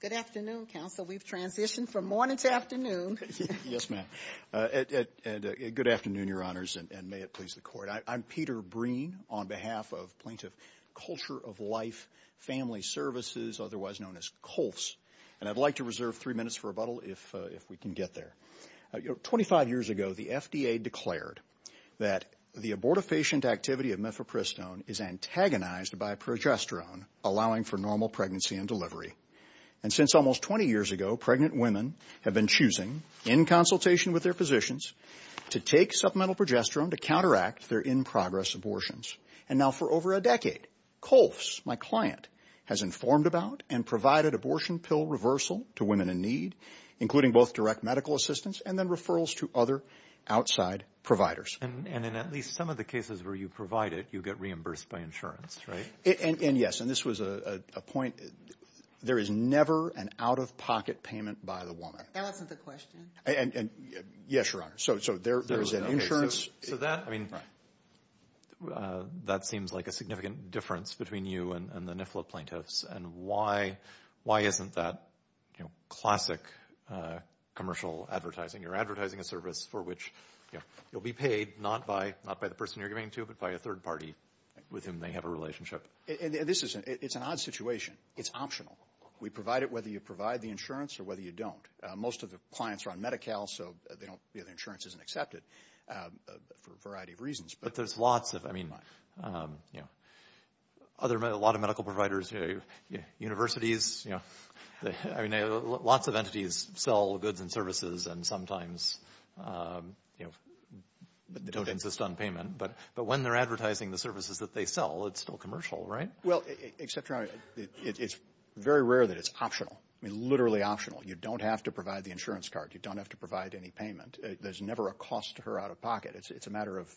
Good afternoon, Counsel. We've transitioned from morning to afternoon. Yes, ma'am. And good afternoon, Your Honors, and may it please the Court. I'm Peter Breen on behalf of Plaintiff Culture of Life Family Services, otherwise known as COLFS. And I'd like to reserve three minutes for rebuttal, if we can get there. Twenty-five years ago, the FDA declared that the abortifacient activity of mifepristone is antagonized by progesterone, allowing for normal pregnancy and delivery. And since almost 20 years ago, pregnant women have been choosing, in consultation with their physicians, to take supplemental progesterone to counteract their in-progress abortions. And now for over a decade, COLFS, my client, has informed about and provided abortion pill reversal to women in need, including both direct medical assistance and then referrals to other outside providers. And in at least some of the cases where you provide it, you get reimbursed by insurance, right? And yes. And this was a point. There is never an out-of-pocket payment by the woman. That wasn't the question. Yes, Your Honor. So there is an insurance. So that seems like a significant difference between you and the NIFLA plaintiffs. And why isn't that classic commercial advertising? You're advertising a service for which you'll be paid not by the person you're giving it to, but by a third party with whom they have a relationship. It's an odd situation. It's optional. We provide it whether you provide the insurance or whether you don't. Most of the clients are on Medi-Cal, so the insurance isn't accepted for a variety of reasons. But there's lots of, I mean, a lot of medical providers, universities, I mean, lots of entities sell goods and services and sometimes don't insist on payment. But when they're advertising the services that they sell, it's still commercial, right? Well, except, Your Honor, it's very rare that it's optional, literally optional. You don't have to provide the insurance card. You don't have to provide any payment. There's never a cost to her out-of-pocket. It's a matter of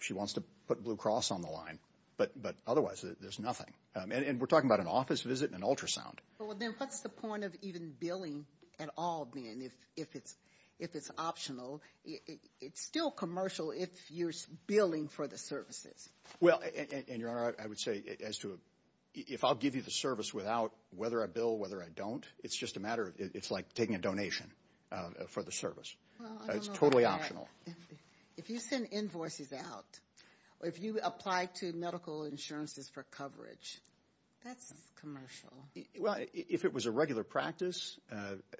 she wants to put Blue Cross on the line. But otherwise, there's nothing. And we're talking about an office visit and an ultrasound. Well, then what's the point of even billing at all, then, if it's optional? It's still commercial if you're billing for the services. Well, and, Your Honor, I would say as to if I'll give you the service without whether I bill, whether I don't, it's just a matter of it's like taking a donation for the service. It's totally optional. If you send invoices out or if you apply to medical insurances for coverage, that's commercial. Well, if it was a regular practice,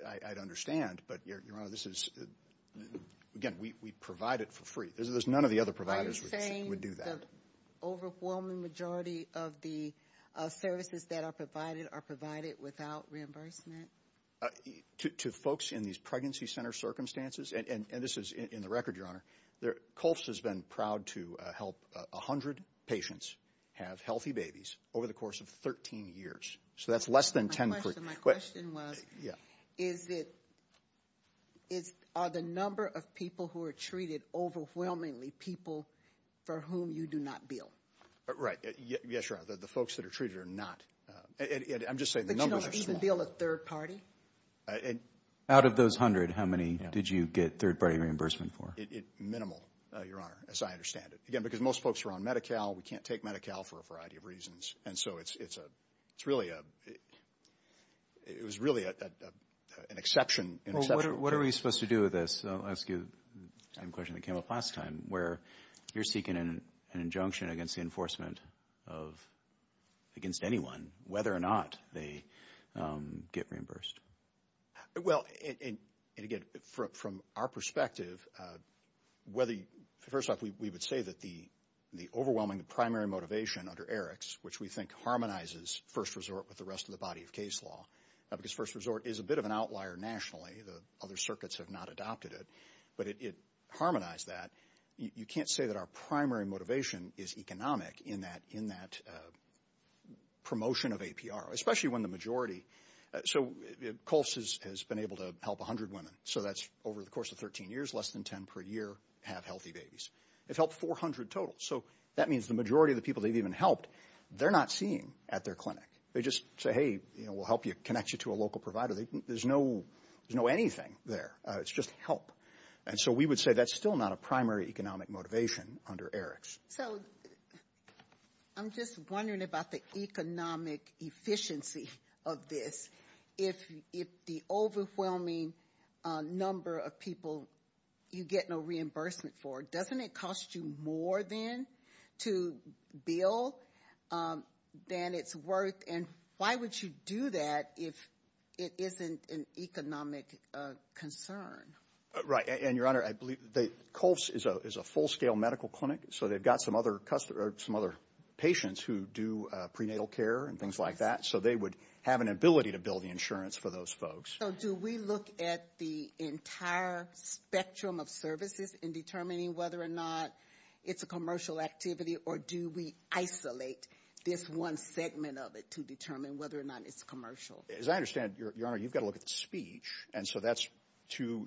I'd understand. But, Your Honor, this is, again, we provide it for free. None of the other providers would do that. Are you saying the overwhelming majority of the services that are provided are provided without reimbursement? To folks in these pregnancy center circumstances, and this is in the record, Your Honor, COLFS has been proud to help 100 patients have healthy babies over the course of 13 years. So that's less than 10 percent. My question was, are the number of people who are treated overwhelmingly people for whom you do not bill? Right. Yes, Your Honor. The folks that are treated are not. I'm just saying the numbers are small. But you don't even bill a third party? Out of those 100, how many did you get third-party reimbursement for? Minimal, Your Honor, as I understand it. Again, because most folks are on Medi-Cal. We can't take Medi-Cal for a variety of reasons. And so it's really an exception. What are we supposed to do with this? I'll ask you the same question that came up last time, where you're seeking an injunction against the enforcement against anyone, whether or not they get reimbursed. Well, and again, from our perspective, first off, we would say that the overwhelming primary motivation under ERICS, which we think harmonizes first resort with the rest of the body of case law, because first resort is a bit of an outlier nationally, the other circuits have not adopted it, but it harmonized that. You can't say that our primary motivation is economic in that promotion of APR, especially when the majority. So COLS has been able to help 100 women. So that's over the course of 13 years, less than 10 per year have healthy babies. It's helped 400 total. So that means the majority of the people they've even helped, they're not seeing at their clinic. They just say, hey, we'll help you, connect you to a local provider. There's no anything there. It's just help. And so we would say that's still not a primary economic motivation under ERICS. So I'm just wondering about the economic efficiency of this. If the overwhelming number of people you get no reimbursement for, doesn't it cost you more then to bill than it's worth? And why would you do that if it isn't an economic concern? And, Your Honor, I believe COLS is a full-scale medical clinic. So they've got some other patients who do prenatal care and things like that. So they would have an ability to bill the insurance for those folks. So do we look at the entire spectrum of services in determining whether or not it's a commercial activity, or do we isolate this one segment of it to determine whether or not it's commercial? As I understand, Your Honor, you've got to look at the speech. And so that's to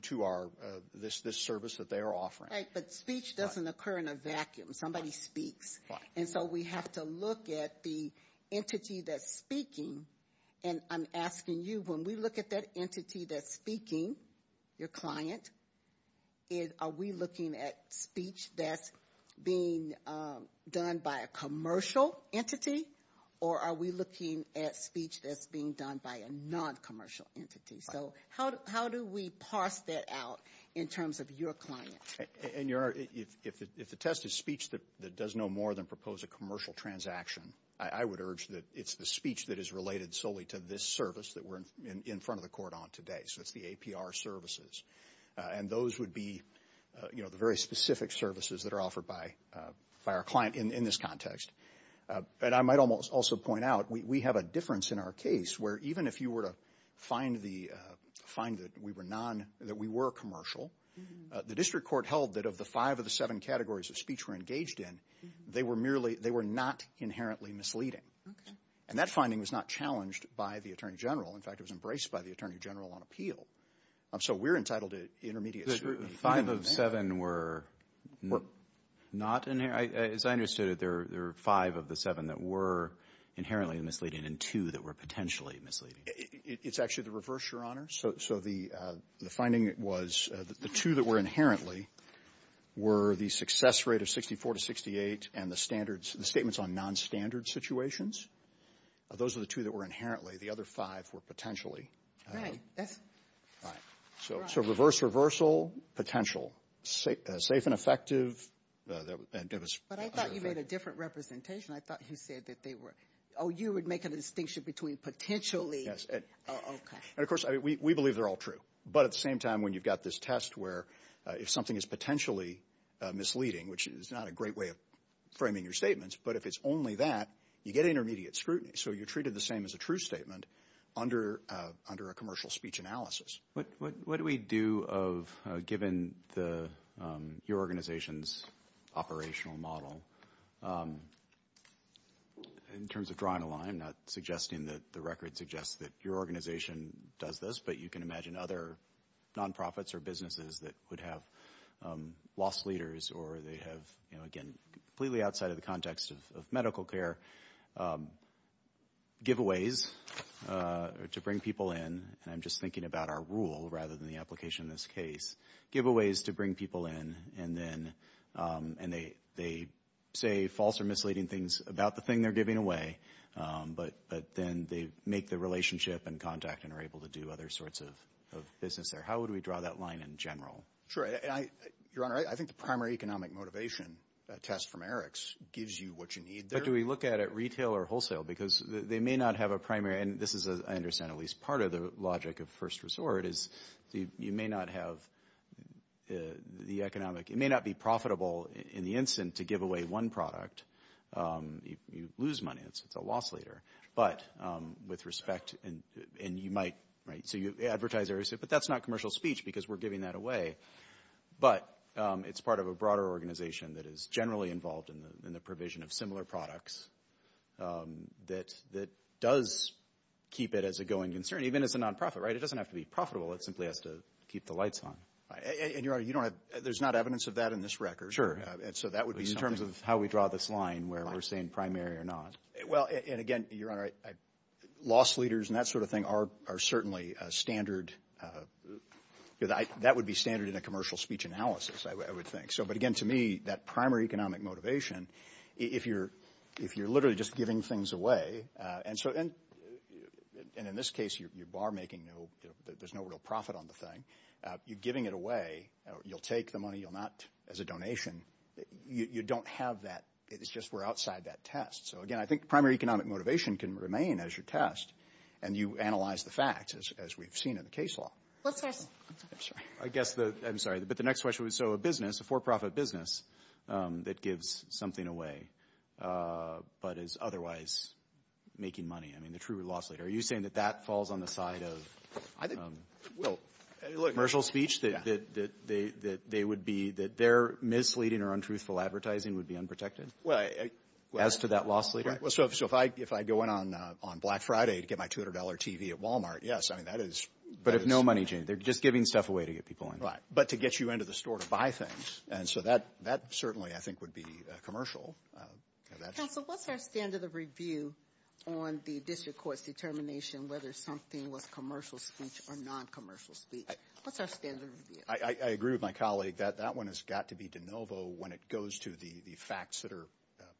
this service that they are offering. But speech doesn't occur in a vacuum. Somebody speaks. And so we have to look at the entity that's speaking. And I'm asking you, when we look at that entity that's speaking, your client, are we looking at speech that's being done by a commercial entity, or are we looking at speech that's being done by a non-commercial entity? So how do we parse that out in terms of your client? And, Your Honor, if the test is speech that does no more than propose a commercial transaction, I would urge that it's the speech that is related solely to this service that we're in front of the court on today. So it's the APR services. And those would be the very specific services that are offered by our client in this context. And I might also point out we have a difference in our case where even if you were to find that we were commercial, the district court held that of the five of the seven categories of speech we're engaged in, they were not inherently misleading. And that finding was not challenged by the attorney general. In fact, it was embraced by the attorney general on appeal. So we're entitled to intermediate scrutiny. Five of seven were not? As I understood it, there were five of the seven that were inherently misleading and two that were potentially misleading. It's actually the reverse, Your Honor. So the finding was that the two that were inherently were the success rate of 64 to 68 and the statements on nonstandard situations. Those were the two that were inherently. The other five were potentially. Right. So reverse reversal, potential. Safe and effective. But I thought you made a different representation. I thought you said that they were. Oh, you would make a distinction between potentially. Yes. And, of course, we believe they're all true. But at the same time, when you've got this test where if something is potentially misleading, which is not a great way of framing your statements, but if it's only that, you get intermediate scrutiny. So you're treated the same as a true statement under a commercial speech analysis. What do we do given your organization's operational model in terms of drawing a line, not suggesting that the record suggests that your organization does this, but you can imagine other nonprofits or businesses that would have lost leaders or they have, again, completely outside of the context of medical care, giveaways to bring people in. And I'm just thinking about our rule rather than the application in this case. Giveaways to bring people in. And they say false or misleading things about the thing they're giving away, but then they make the relationship and contact and are able to do other sorts of business there. How would we draw that line in general? Sure. Your Honor, I think the primary economic motivation test from Eric's gives you what you need there. But do we look at it retail or wholesale? Because they may not have a primary, and this is, I understand, at least part of the logic of first resort, is you may not have the economic. It may not be profitable in the instant to give away one product. You lose money. It's a loss leader. But with respect, and you might, right, so advertisers say, but that's not commercial speech because we're giving that away. But it's part of a broader organization that is generally involved in the provision of similar products that does keep it as a going concern, even as a nonprofit, right? So it doesn't have to be profitable. It simply has to keep the lights on. And, Your Honor, you don't have, there's not evidence of that in this record. Sure. And so that would be something. In terms of how we draw this line where we're saying primary or not. Well, and again, Your Honor, loss leaders and that sort of thing are certainly standard, that would be standard in a commercial speech analysis, I would think. So, but again, to me, that primary economic motivation, if you're literally just giving things away, and so, and in this case, you're bar making no, there's no real profit on the thing. You're giving it away. You'll take the money, you'll not, as a donation. You don't have that. It's just we're outside that test. So, again, I think primary economic motivation can remain as your test, and you analyze the facts as we've seen in the case law. I guess, I'm sorry, but the next question was, so a business, a for-profit business that gives something away but is otherwise making money, I mean, the true loss leader. Are you saying that that falls on the side of commercial speech, that they would be, that their misleading or untruthful advertising would be unprotected as to that loss leader? Well, so if I go in on Black Friday to get my $200 TV at Walmart, yes, I mean, that is. But if no money, they're just giving stuff away to get people in. Right. But to get you into the store to buy things. And so that certainly, I think, would be commercial. Counsel, what's our standard of review on the district court's determination whether something was commercial speech or non-commercial speech? What's our standard of review? I agree with my colleague that that one has got to be de novo when it goes to the facts that are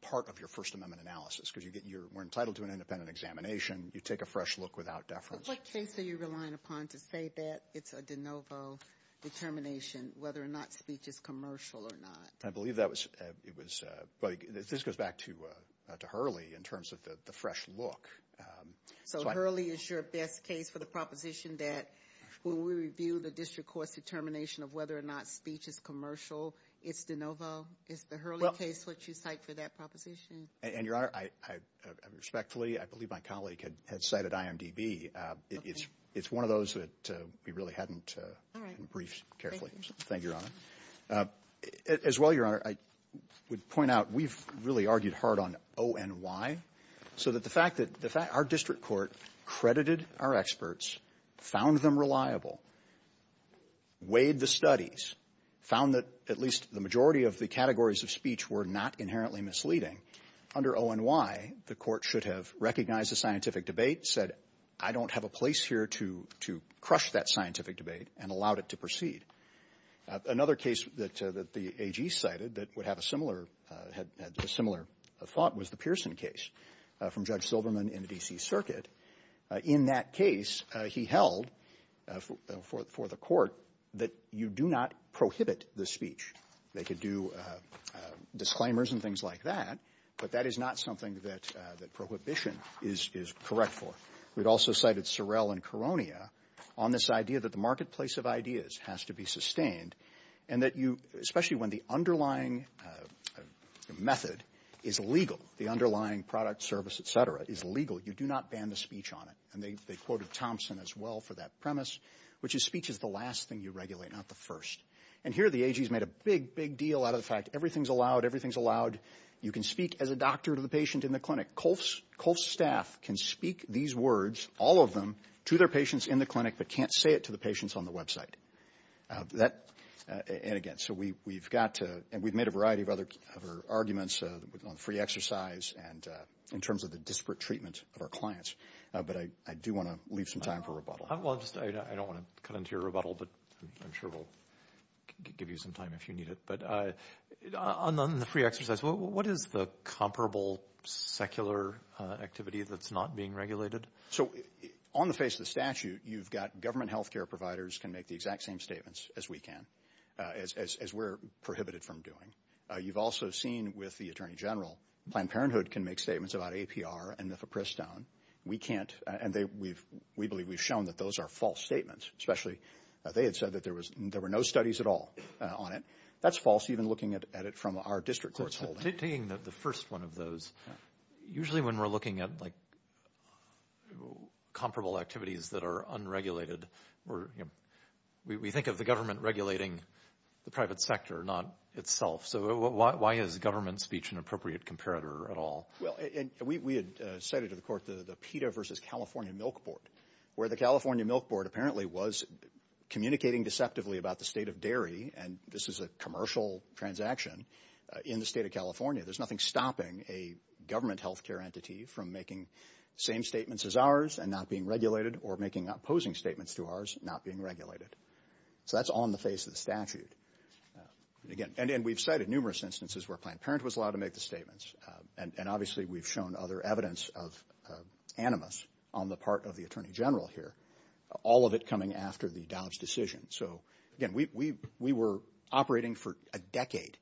part of your First Amendment analysis because we're entitled to an independent examination. You take a fresh look without deference. But what case are you relying upon to say that it's a de novo determination whether or not speech is commercial or not? I believe that was, it was, this goes back to Hurley in terms of the fresh look. So Hurley is your best case for the proposition that when we review the district court's determination of whether or not speech is commercial, it's de novo? Is the Hurley case what you cite for that proposition? And, Your Honor, I respectfully, I believe my colleague had cited IMDB. It's one of those that we really hadn't briefed carefully. Thank you, Your Honor. As well, Your Honor, I would point out we've really argued hard on ONY so that the fact that our district court credited our experts, found them reliable, weighed the studies, found that at least the majority of the categories of speech were not inherently misleading. Under ONY, the court should have recognized the scientific debate, said I don't have a place here to crush that scientific debate, and allowed it to proceed. Another case that the AG cited that would have a similar, had a similar thought was the Pearson case from Judge Silverman in the D.C. Circuit. In that case, he held for the court that you do not prohibit the speech. They could do disclaimers and things like that, but that is not something that prohibition is correct for. We'd also cited Sorrell and Koronia on this idea that the marketplace of ideas has to be sustained, and that you, especially when the underlying method is legal, the underlying product, service, et cetera, is legal, you do not ban the speech on it. And they quoted Thompson as well for that premise, which is speech is the last thing you regulate, not the first. And here the AG's made a big, big deal out of the fact everything's allowed, everything's allowed. You can speak as a doctor to the patient in the clinic. Colf's staff can speak these words, all of them, to their patients in the clinic, but can't say it to the patients on the website. And again, so we've got to, and we've made a variety of other arguments on free exercise and in terms of the disparate treatment of our clients, but I do want to leave some time for rebuttal. Well, I don't want to cut into your rebuttal, but I'm sure we'll give you some time if you need it. But on the free exercise, what is the comparable secular activity that's not being regulated? So on the face of the statute, you've got government health care providers can make the exact same statements as we can, as we're prohibited from doing. You've also seen with the Attorney General Planned Parenthood can make statements about APR and MIFA-Pristone. We can't, and we believe we've shown that those are false statements, especially they had said that there were no studies at all on it. That's false, even looking at it from our district court's holding. Taking the first one of those, usually when we're looking at comparable activities that are unregulated, we think of the government regulating the private sector, not itself. So why is government speech an appropriate comparator at all? Well, we had cited to the court the PETA versus California Milk Board, where the California Milk Board apparently was communicating deceptively about the state of dairy, and this is a commercial transaction in the state of California. There's nothing stopping a government health care entity from making same statements as ours and not being regulated or making opposing statements to ours not being regulated. So that's on the face of the statute. And we've cited numerous instances where Planned Parenthood was allowed to make the statements, and obviously we've shown other evidence of animus on the part of the Attorney General here, all of it coming after the Dobbs decision. So, again, we were operating for a decade.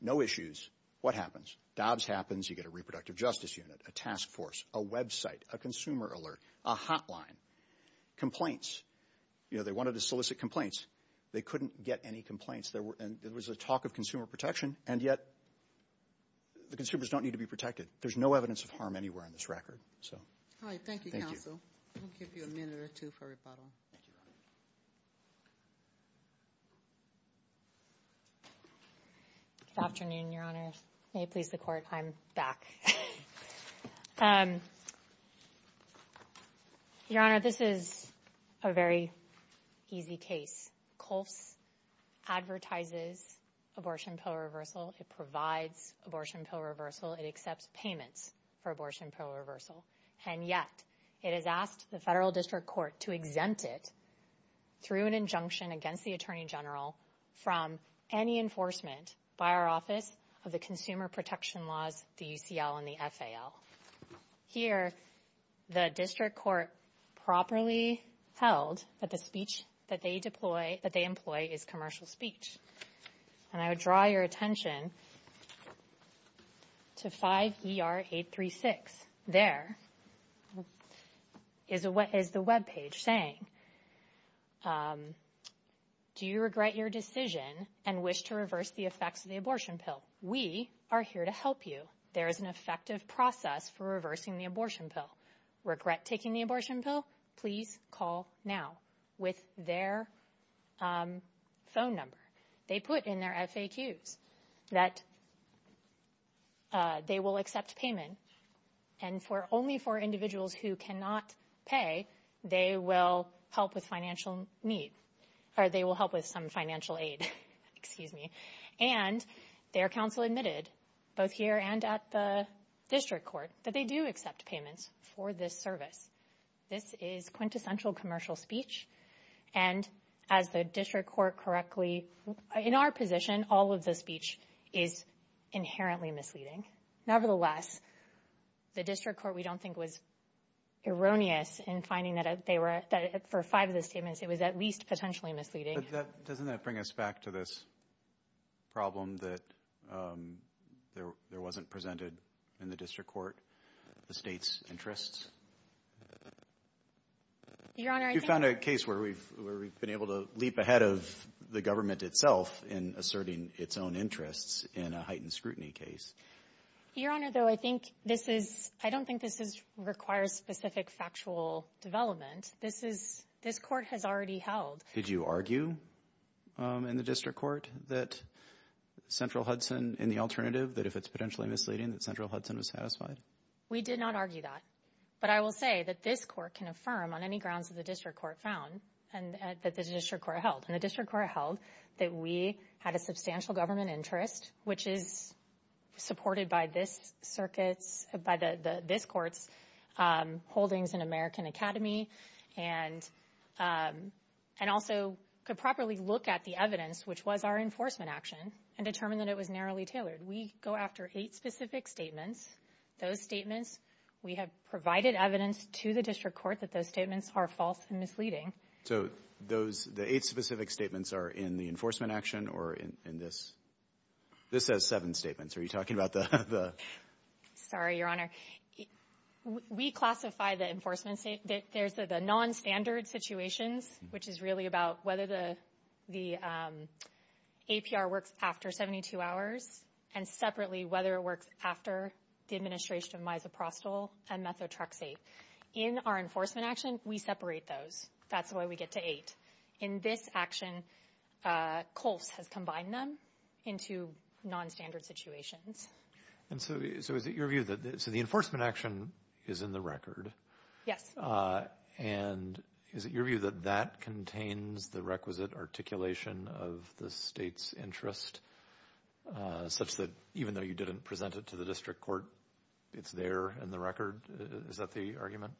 No issues. What happens? Dobbs happens. You get a reproductive justice unit, a task force, a website, a consumer alert, a hotline. Complaints. You know, they wanted to solicit complaints. They couldn't get any complaints. There was a talk of consumer protection, and yet the consumers don't need to be protected. There's no evidence of harm anywhere on this record. All right. Thank you, counsel. I'll give you a minute or two for rebuttal. Thank you, Your Honor. Good afternoon, Your Honor. May it please the Court, I'm back. Your Honor, this is a very easy case. COLFS advertises abortion pill reversal. It provides abortion pill reversal. It accepts payments for abortion pill reversal. And yet, it has asked the Federal District Court to exempt it through an injunction against the Attorney General from any enforcement by our Office of the Consumer Protection Laws, the UCL and the FAL. Here, the District Court properly held that the speech that they employ is commercial speech. And I would draw your attention to 5ER836. There is the webpage saying, Do you regret your decision and wish to reverse the effects of the abortion pill? We are here to help you. There is an effective process for reversing the abortion pill. Regret taking the abortion pill? Please call now with their phone number. They put in their FAQs that they will accept payment. And only for individuals who cannot pay, they will help with financial need. Or they will help with some financial aid. Excuse me. And their counsel admitted, both here and at the District Court, that they do accept payments for this service. This is quintessential commercial speech. And as the District Court correctly, in our position, all of the speech is inherently misleading. Nevertheless, the District Court, we don't think, was erroneous in finding that for five of the statements, it was at least potentially misleading. But doesn't that bring us back to this problem that there wasn't presented in the District Court the state's interests? Your Honor, I think— You found a case where we've been able to leap ahead of the government itself in asserting its own interests in a heightened scrutiny case. Your Honor, though, I think this is—I don't think this requires specific factual development. This is—this court has already held. Did you argue in the District Court that Central Hudson, in the alternative, that if it's potentially misleading, that Central Hudson was satisfied? We did not argue that. But I will say that this court can affirm on any grounds that the District Court found, and that the District Court held. And the District Court held that we had a substantial government interest, which is supported by this circuit's—by this court's holdings in American Academy and also could properly look at the evidence, which was our enforcement action, and determine that it was narrowly tailored. We go after eight specific statements. Those statements, we have provided evidence to the District Court that those statements are false and misleading. So those—the eight specific statements are in the enforcement action or in this? This has seven statements. Are you talking about the— Sorry, Your Honor. We classify the enforcement—there's the nonstandard situations, which is really about whether the APR works after 72 hours, and separately whether it works after the administration of misoprostol and methotrexate. In our enforcement action, we separate those. That's why we get to eight. In this action, Colf's has combined them into nonstandard situations. And so is it your view that—so the enforcement action is in the record? Yes. And is it your view that that contains the requisite articulation of the state's interest, such that even though you didn't present it to the District Court, it's there in the record? Is that the argument?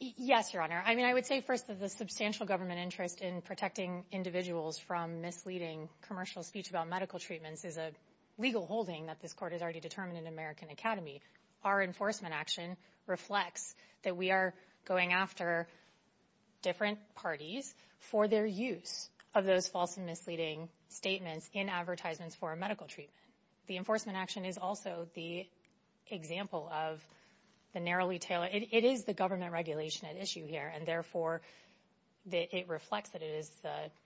Yes, Your Honor. I mean, I would say, first, that the substantial government interest in protecting individuals from misleading commercial speech about medical treatments is a legal holding that this Court has already determined in American Academy. Our enforcement action reflects that we are going after different parties for their use of those false and misleading statements in advertisements for a medical treatment. The enforcement action is also the example of the narrowly tailored— it is the government regulation at issue here, and therefore it reflects that it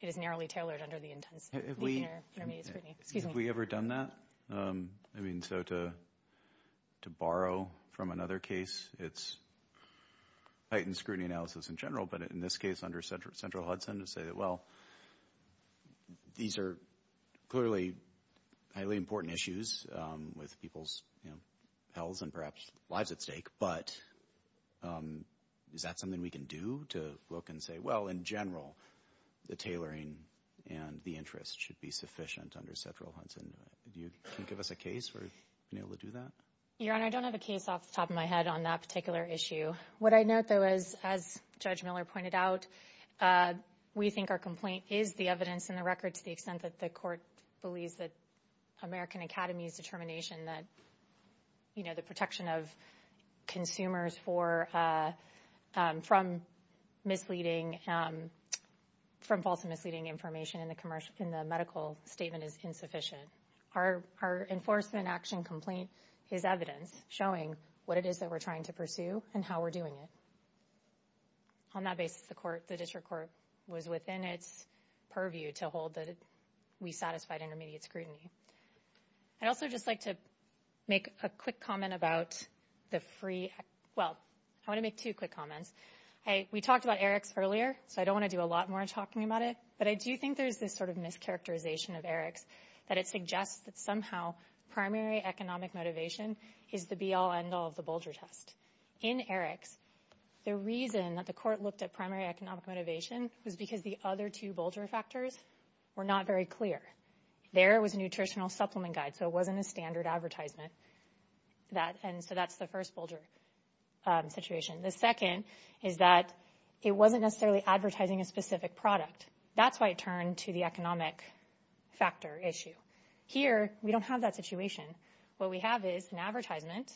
is narrowly tailored under the intermediate scrutiny. Have we ever done that? I mean, so to borrow from another case, it's heightened scrutiny analysis in general, but in this case under central Hudson to say that, well, these are clearly highly important issues with people's health and perhaps lives at stake, but is that something we can do to look and say, well, in general, the tailoring and the interest should be sufficient under central Hudson? Can you give us a case for being able to do that? Your Honor, I don't have a case off the top of my head on that particular issue. What I note, though, is, as Judge Miller pointed out, we think our complaint is the evidence in the record to the extent that the Court believes that American Academy's determination that the protection of consumers from misleading, from false and misleading information in the medical statement is insufficient. Our enforcement action complaint is evidence showing what it is that we're trying to pursue and how we're doing it. On that basis, the District Court was within its purview to hold that we satisfied intermediate scrutiny. I'd also just like to make a quick comment about the free – well, I want to make two quick comments. We talked about ERICS earlier, so I don't want to do a lot more talking about it, but I do think there's this sort of mischaracterization of ERICS that it suggests that somehow primary economic motivation is the be-all, end-all of the Bolger test. In ERICS, the reason that the Court looked at primary economic motivation was because the other two Bolger factors were not very clear. There was a nutritional supplement guide, so it wasn't a standard advertisement, and so that's the first Bolger situation. The second is that it wasn't necessarily advertising a specific product. That's why it turned to the economic factor issue. Here, we don't have that situation. What we have is an advertisement,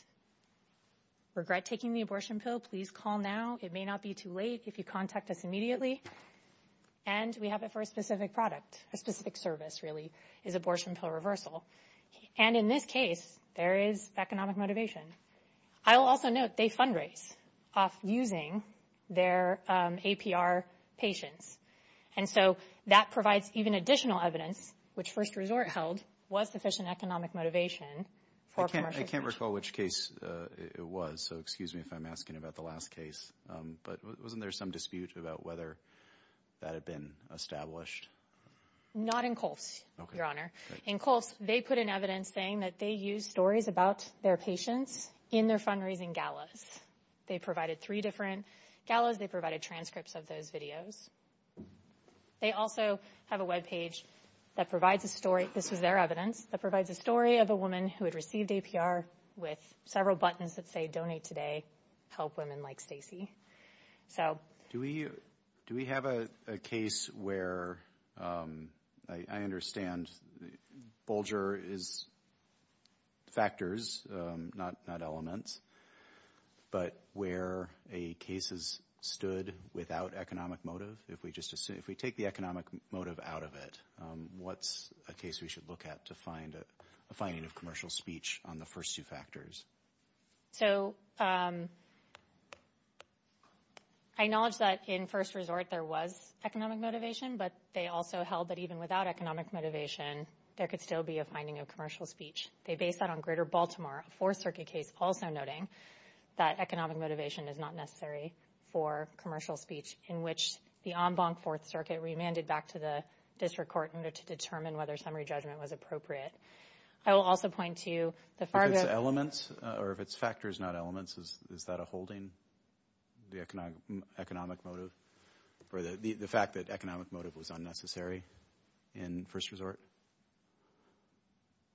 Regret taking the abortion pill? Please call now. It may not be too late if you contact us immediately. And we have it for a specific product, a specific service, really, is abortion pill reversal. And in this case, there is economic motivation. I will also note they fundraise off using their APR patients, and so that provides even additional evidence, which first resort held was sufficient economic motivation for commercial use. I can't recall which case it was, so excuse me if I'm asking about the last case, but wasn't there some dispute about whether that had been established? Not in Colf's, Your Honor. In Colf's, they put in evidence saying that they used stories about their patients in their fundraising galas. They provided three different galas. They provided transcripts of those videos. They also have a webpage that provides a story. This was their evidence that provides a story of a woman who had received APR with several buttons that say, Donate Today, help women like Stacey. Do we have a case where, I understand, bulger is factors, not elements, but where a case is stood without economic motive? If we take the economic motive out of it, what's a case we should look at to find a finding of commercial speech on the first two factors? So I acknowledge that in first resort there was economic motivation, but they also held that even without economic motivation, there could still be a finding of commercial speech. They based that on Greater Baltimore, a Fourth Circuit case, also noting that economic motivation is not necessary for commercial speech in which the en banc Fourth Circuit remanded back to the district court in order to determine whether summary judgment was appropriate. I will also point to the far- If it's elements or if it's factors, not elements, is that a holding, the economic motive, or the fact that economic motive was unnecessary in first resort?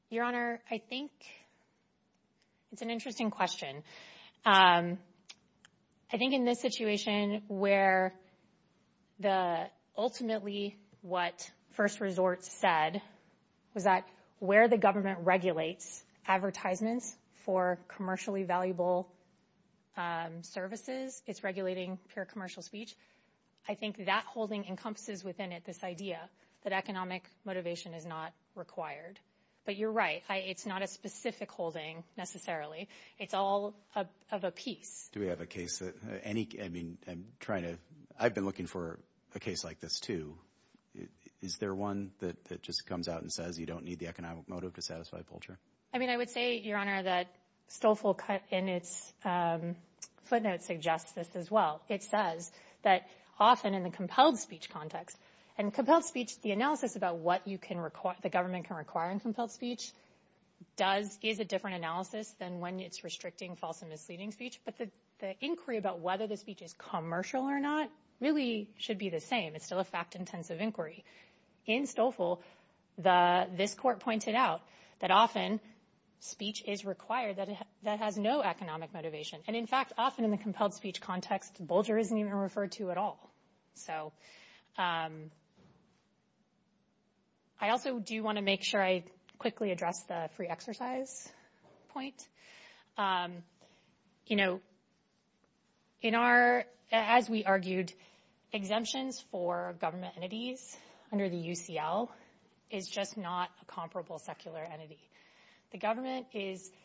Your Honor, I think it's an interesting question. I think in this situation where ultimately what first resort said was that where the government regulates advertisements for commercially valuable services, it's regulating pure commercial speech, I think that holding encompasses within it this idea that economic motivation is not required. But you're right, it's not a specific holding necessarily. It's all of a piece. Do we have a case that any- I mean, I'm trying to- I've been looking for a case like this, too. Is there one that just comes out and says you don't need the economic motive to satisfy Pulcher? I mean, I would say, Your Honor, that Stolfi in its footnotes suggests this as well. It says that often in the compelled speech context, and compelled speech, the analysis about what the government can require in compelled speech, is a different analysis than when it's restricting false and misleading speech. But the inquiry about whether the speech is commercial or not really should be the same. It's still a fact-intensive inquiry. In Stolfi, this court pointed out that often speech is required that has no economic motivation. And in fact, often in the compelled speech context, Bulger isn't even referred to at all. So I also do want to make sure I quickly address the free exercise point. You know, in our- as we argued, exemptions for government entities under the UCL is just not a comparable secular entity. The government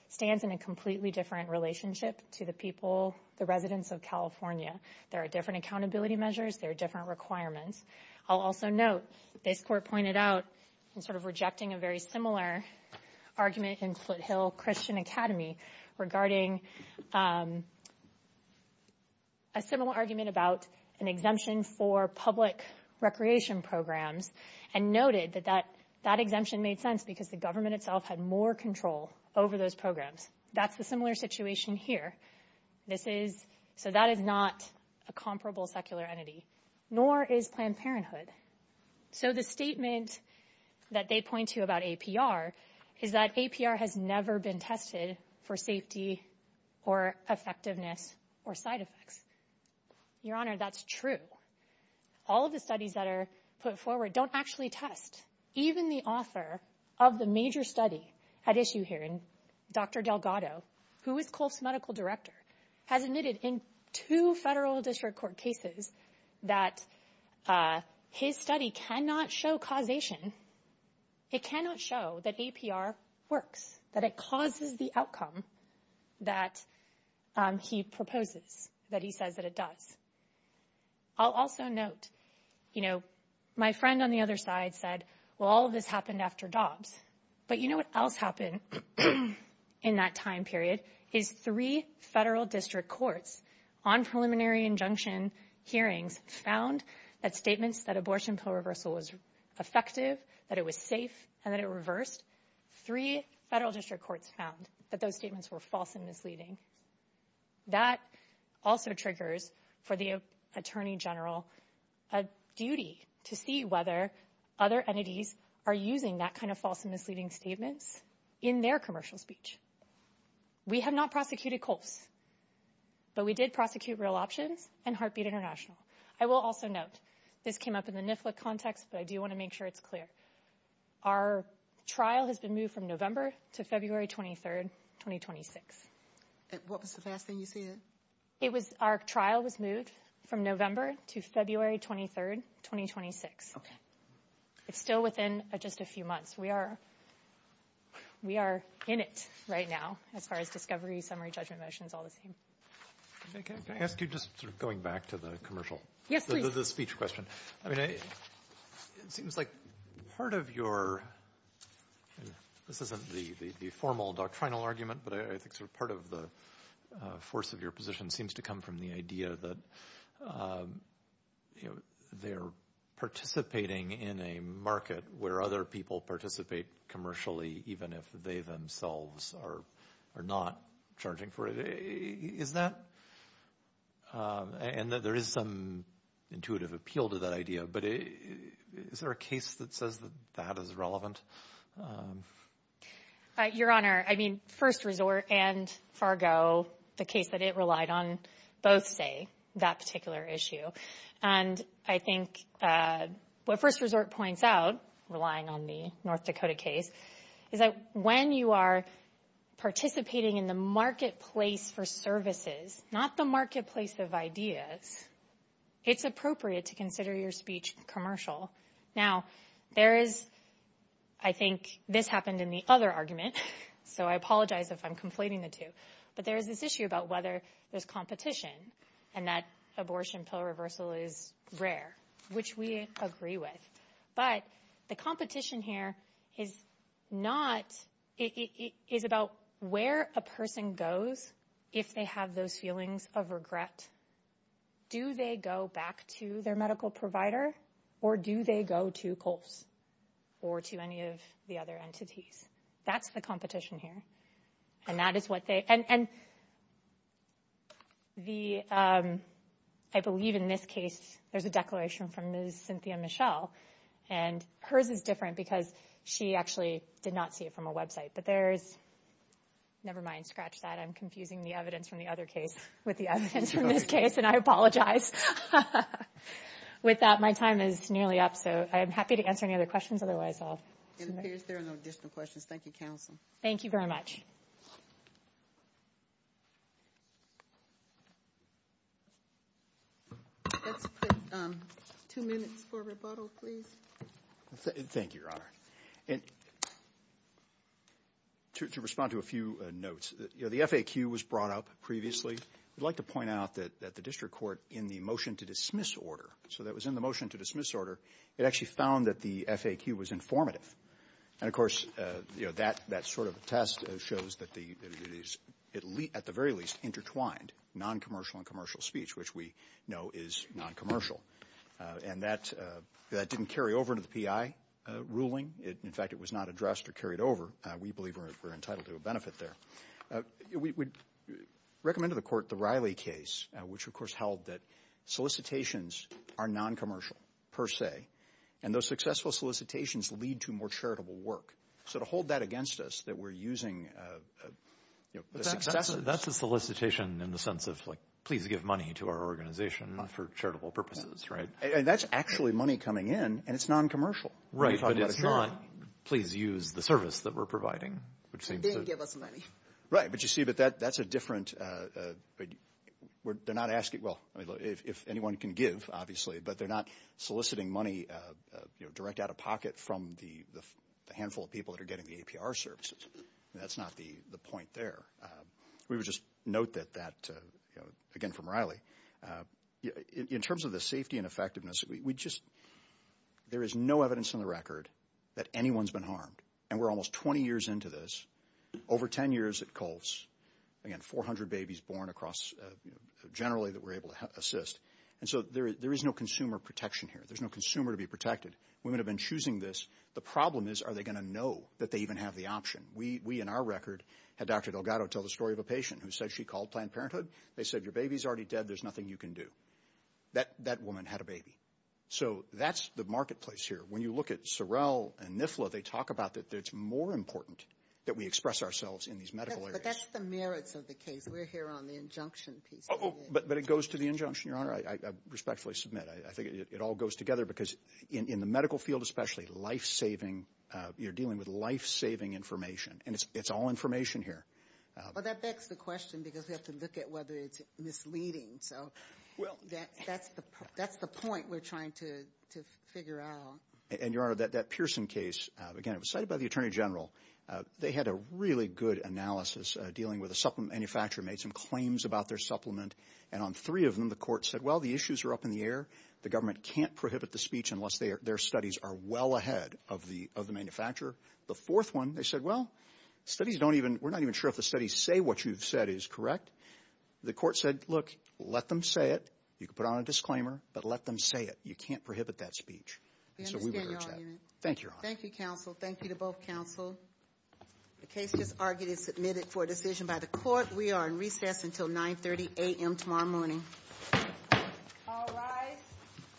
stands in a completely different relationship to the people, the residents of California. There are different accountability measures. There are different requirements. I'll also note, this court pointed out in sort of rejecting a very similar argument in Foothill Christian Academy regarding a similar argument about an exemption for public recreation programs and noted that that exemption made sense because the government itself had more control over those programs. That's a similar situation here. This is- so that is not a comparable secular entity, nor is Planned Parenthood. So the statement that they point to about APR is that APR has never been tested for safety or effectiveness or side effects. Your Honor, that's true. All of the studies that are put forward don't actually test. Even the author of the major study at issue here, Dr. Delgado, who is COLEF's medical director, has admitted in two federal district court cases that his study cannot show causation. It cannot show that APR works, that it causes the outcome that he proposes, that he says that it does. I'll also note, you know, my friend on the other side said, well, all of this happened after Dobbs. But you know what else happened in that time period is three federal district courts on preliminary injunction hearings found that statements that abortion pill reversal was effective, that it was safe, and that it reversed. Three federal district courts found that those statements were false and misleading. That also triggers for the Attorney General a duty to see whether other entities are using that kind of false and misleading statements in their commercial speech. We have not prosecuted COLEF's, but we did prosecute Real Options and Heartbeat International. I will also note, this came up in the NIFLA context, but I do want to make sure it's clear. Our trial has been moved from November to February 23rd, 2026. What was the last thing you said? Our trial was moved from November to February 23rd, 2026. It's still within just a few months. We are in it right now as far as discovery, summary, judgment motions, all the same. Can I ask you, just going back to the commercial, the speech question. It seems like part of your, this isn't the formal doctrinal argument, but I think sort of part of the force of your position seems to come from the idea that they're participating in a market where other people participate commercially even if they themselves are not charging for it. Is that, and there is some intuitive appeal to that idea, but is there a case that says that that is relevant? Your Honor, I mean, First Resort and Fargo, the case that it relied on, both say that particular issue. And I think what First Resort points out, relying on the North Dakota case, is that when you are participating in the marketplace for services, not the marketplace of ideas, it's appropriate to consider your speech commercial. Now, there is, I think this happened in the other argument, so I apologize if I'm conflating the two, but there is this issue about whether there's competition and that abortion pill reversal is rare, which we agree with. But the competition here is not, it is about where a person goes if they have those feelings of regret. Do they go back to their medical provider or do they go to Colts or to any of the other entities? That's the competition here, and that is what they, and the, I believe in this case, there's a declaration from Ms. Cynthia Michelle, and hers is different because she actually did not see it from a website. But there's, never mind, scratch that, I'm confusing the evidence from the other case with the evidence from this case, and I apologize. With that, my time is nearly up, so I'm happy to answer any other questions, otherwise I'll... It appears there are no additional questions. Thank you, Counsel. Thank you very much. Thank you. Let's put two minutes for rebuttal, please. Thank you, Your Honor. To respond to a few notes, the FAQ was brought up previously. I'd like to point out that the district court, in the motion to dismiss order, so that was in the motion to dismiss order, it actually found that the FAQ was informative. And, of course, you know, that sort of test shows that it is, at the very least, intertwined noncommercial and commercial speech, which we know is noncommercial. And that didn't carry over into the PI ruling. In fact, it was not addressed or carried over. We believe we're entitled to a benefit there. We recommended to the court the Riley case, which, of course, held that solicitations are noncommercial, per se, and those successful solicitations lead to more charitable work. So to hold that against us, that we're using the successes... That's a solicitation in the sense of, like, please give money to our organization for charitable purposes, right? And that's actually money coming in, and it's noncommercial. Right, but it's not, please use the service that we're providing, which seems to... Right, but you see, that's a different... They're not asking, well, if anyone can give, obviously, but they're not soliciting money direct out of pocket from the handful of people that are getting the APR services. That's not the point there. We would just note that, again, from Riley. In terms of the safety and effectiveness, we just... There is no evidence on the record that anyone's been harmed, and we're almost 20 years into this, over 10 years at Colts. Again, 400 babies born across, generally, that we're able to assist. And so there is no consumer protection here. There's no consumer to be protected. Women have been choosing this. The problem is, are they going to know that they even have the option? We, in our record, had Dr. Delgado tell the story of a patient who said she called Planned Parenthood. They said, your baby's already dead. There's nothing you can do. That woman had a baby. So that's the marketplace here. When you look at Sorrell and NIFLA, they talk about that it's more important that we express ourselves in these medical areas. But that's the merits of the case. We're here on the injunction piece. But it goes to the injunction, Your Honor. I respectfully submit. I think it all goes together, because in the medical field especially, life-saving, you're dealing with life-saving information. And it's all information here. Well, that begs the question, because we have to look at whether it's misleading. So that's the point we're trying to figure out. And, Your Honor, that Pearson case, again, it was cited by the Attorney General. They had a really good analysis dealing with a supplement manufacturer, made some claims about their supplement. And on three of them, the court said, well, the issues are up in the air. The government can't prohibit the speech unless their studies are well ahead of the manufacturer. The fourth one, they said, well, studies don't even – we're not even sure if the studies say what you've said is correct. The court said, look, let them say it. You can put on a disclaimer, but let them say it. You can't prohibit that speech. So we would urge that. Thank you, Your Honor. Thank you, counsel. Thank you to both counsel. The case is argued and submitted for decision by the court. We are in recess until 9.30 a.m. tomorrow morning. All rise.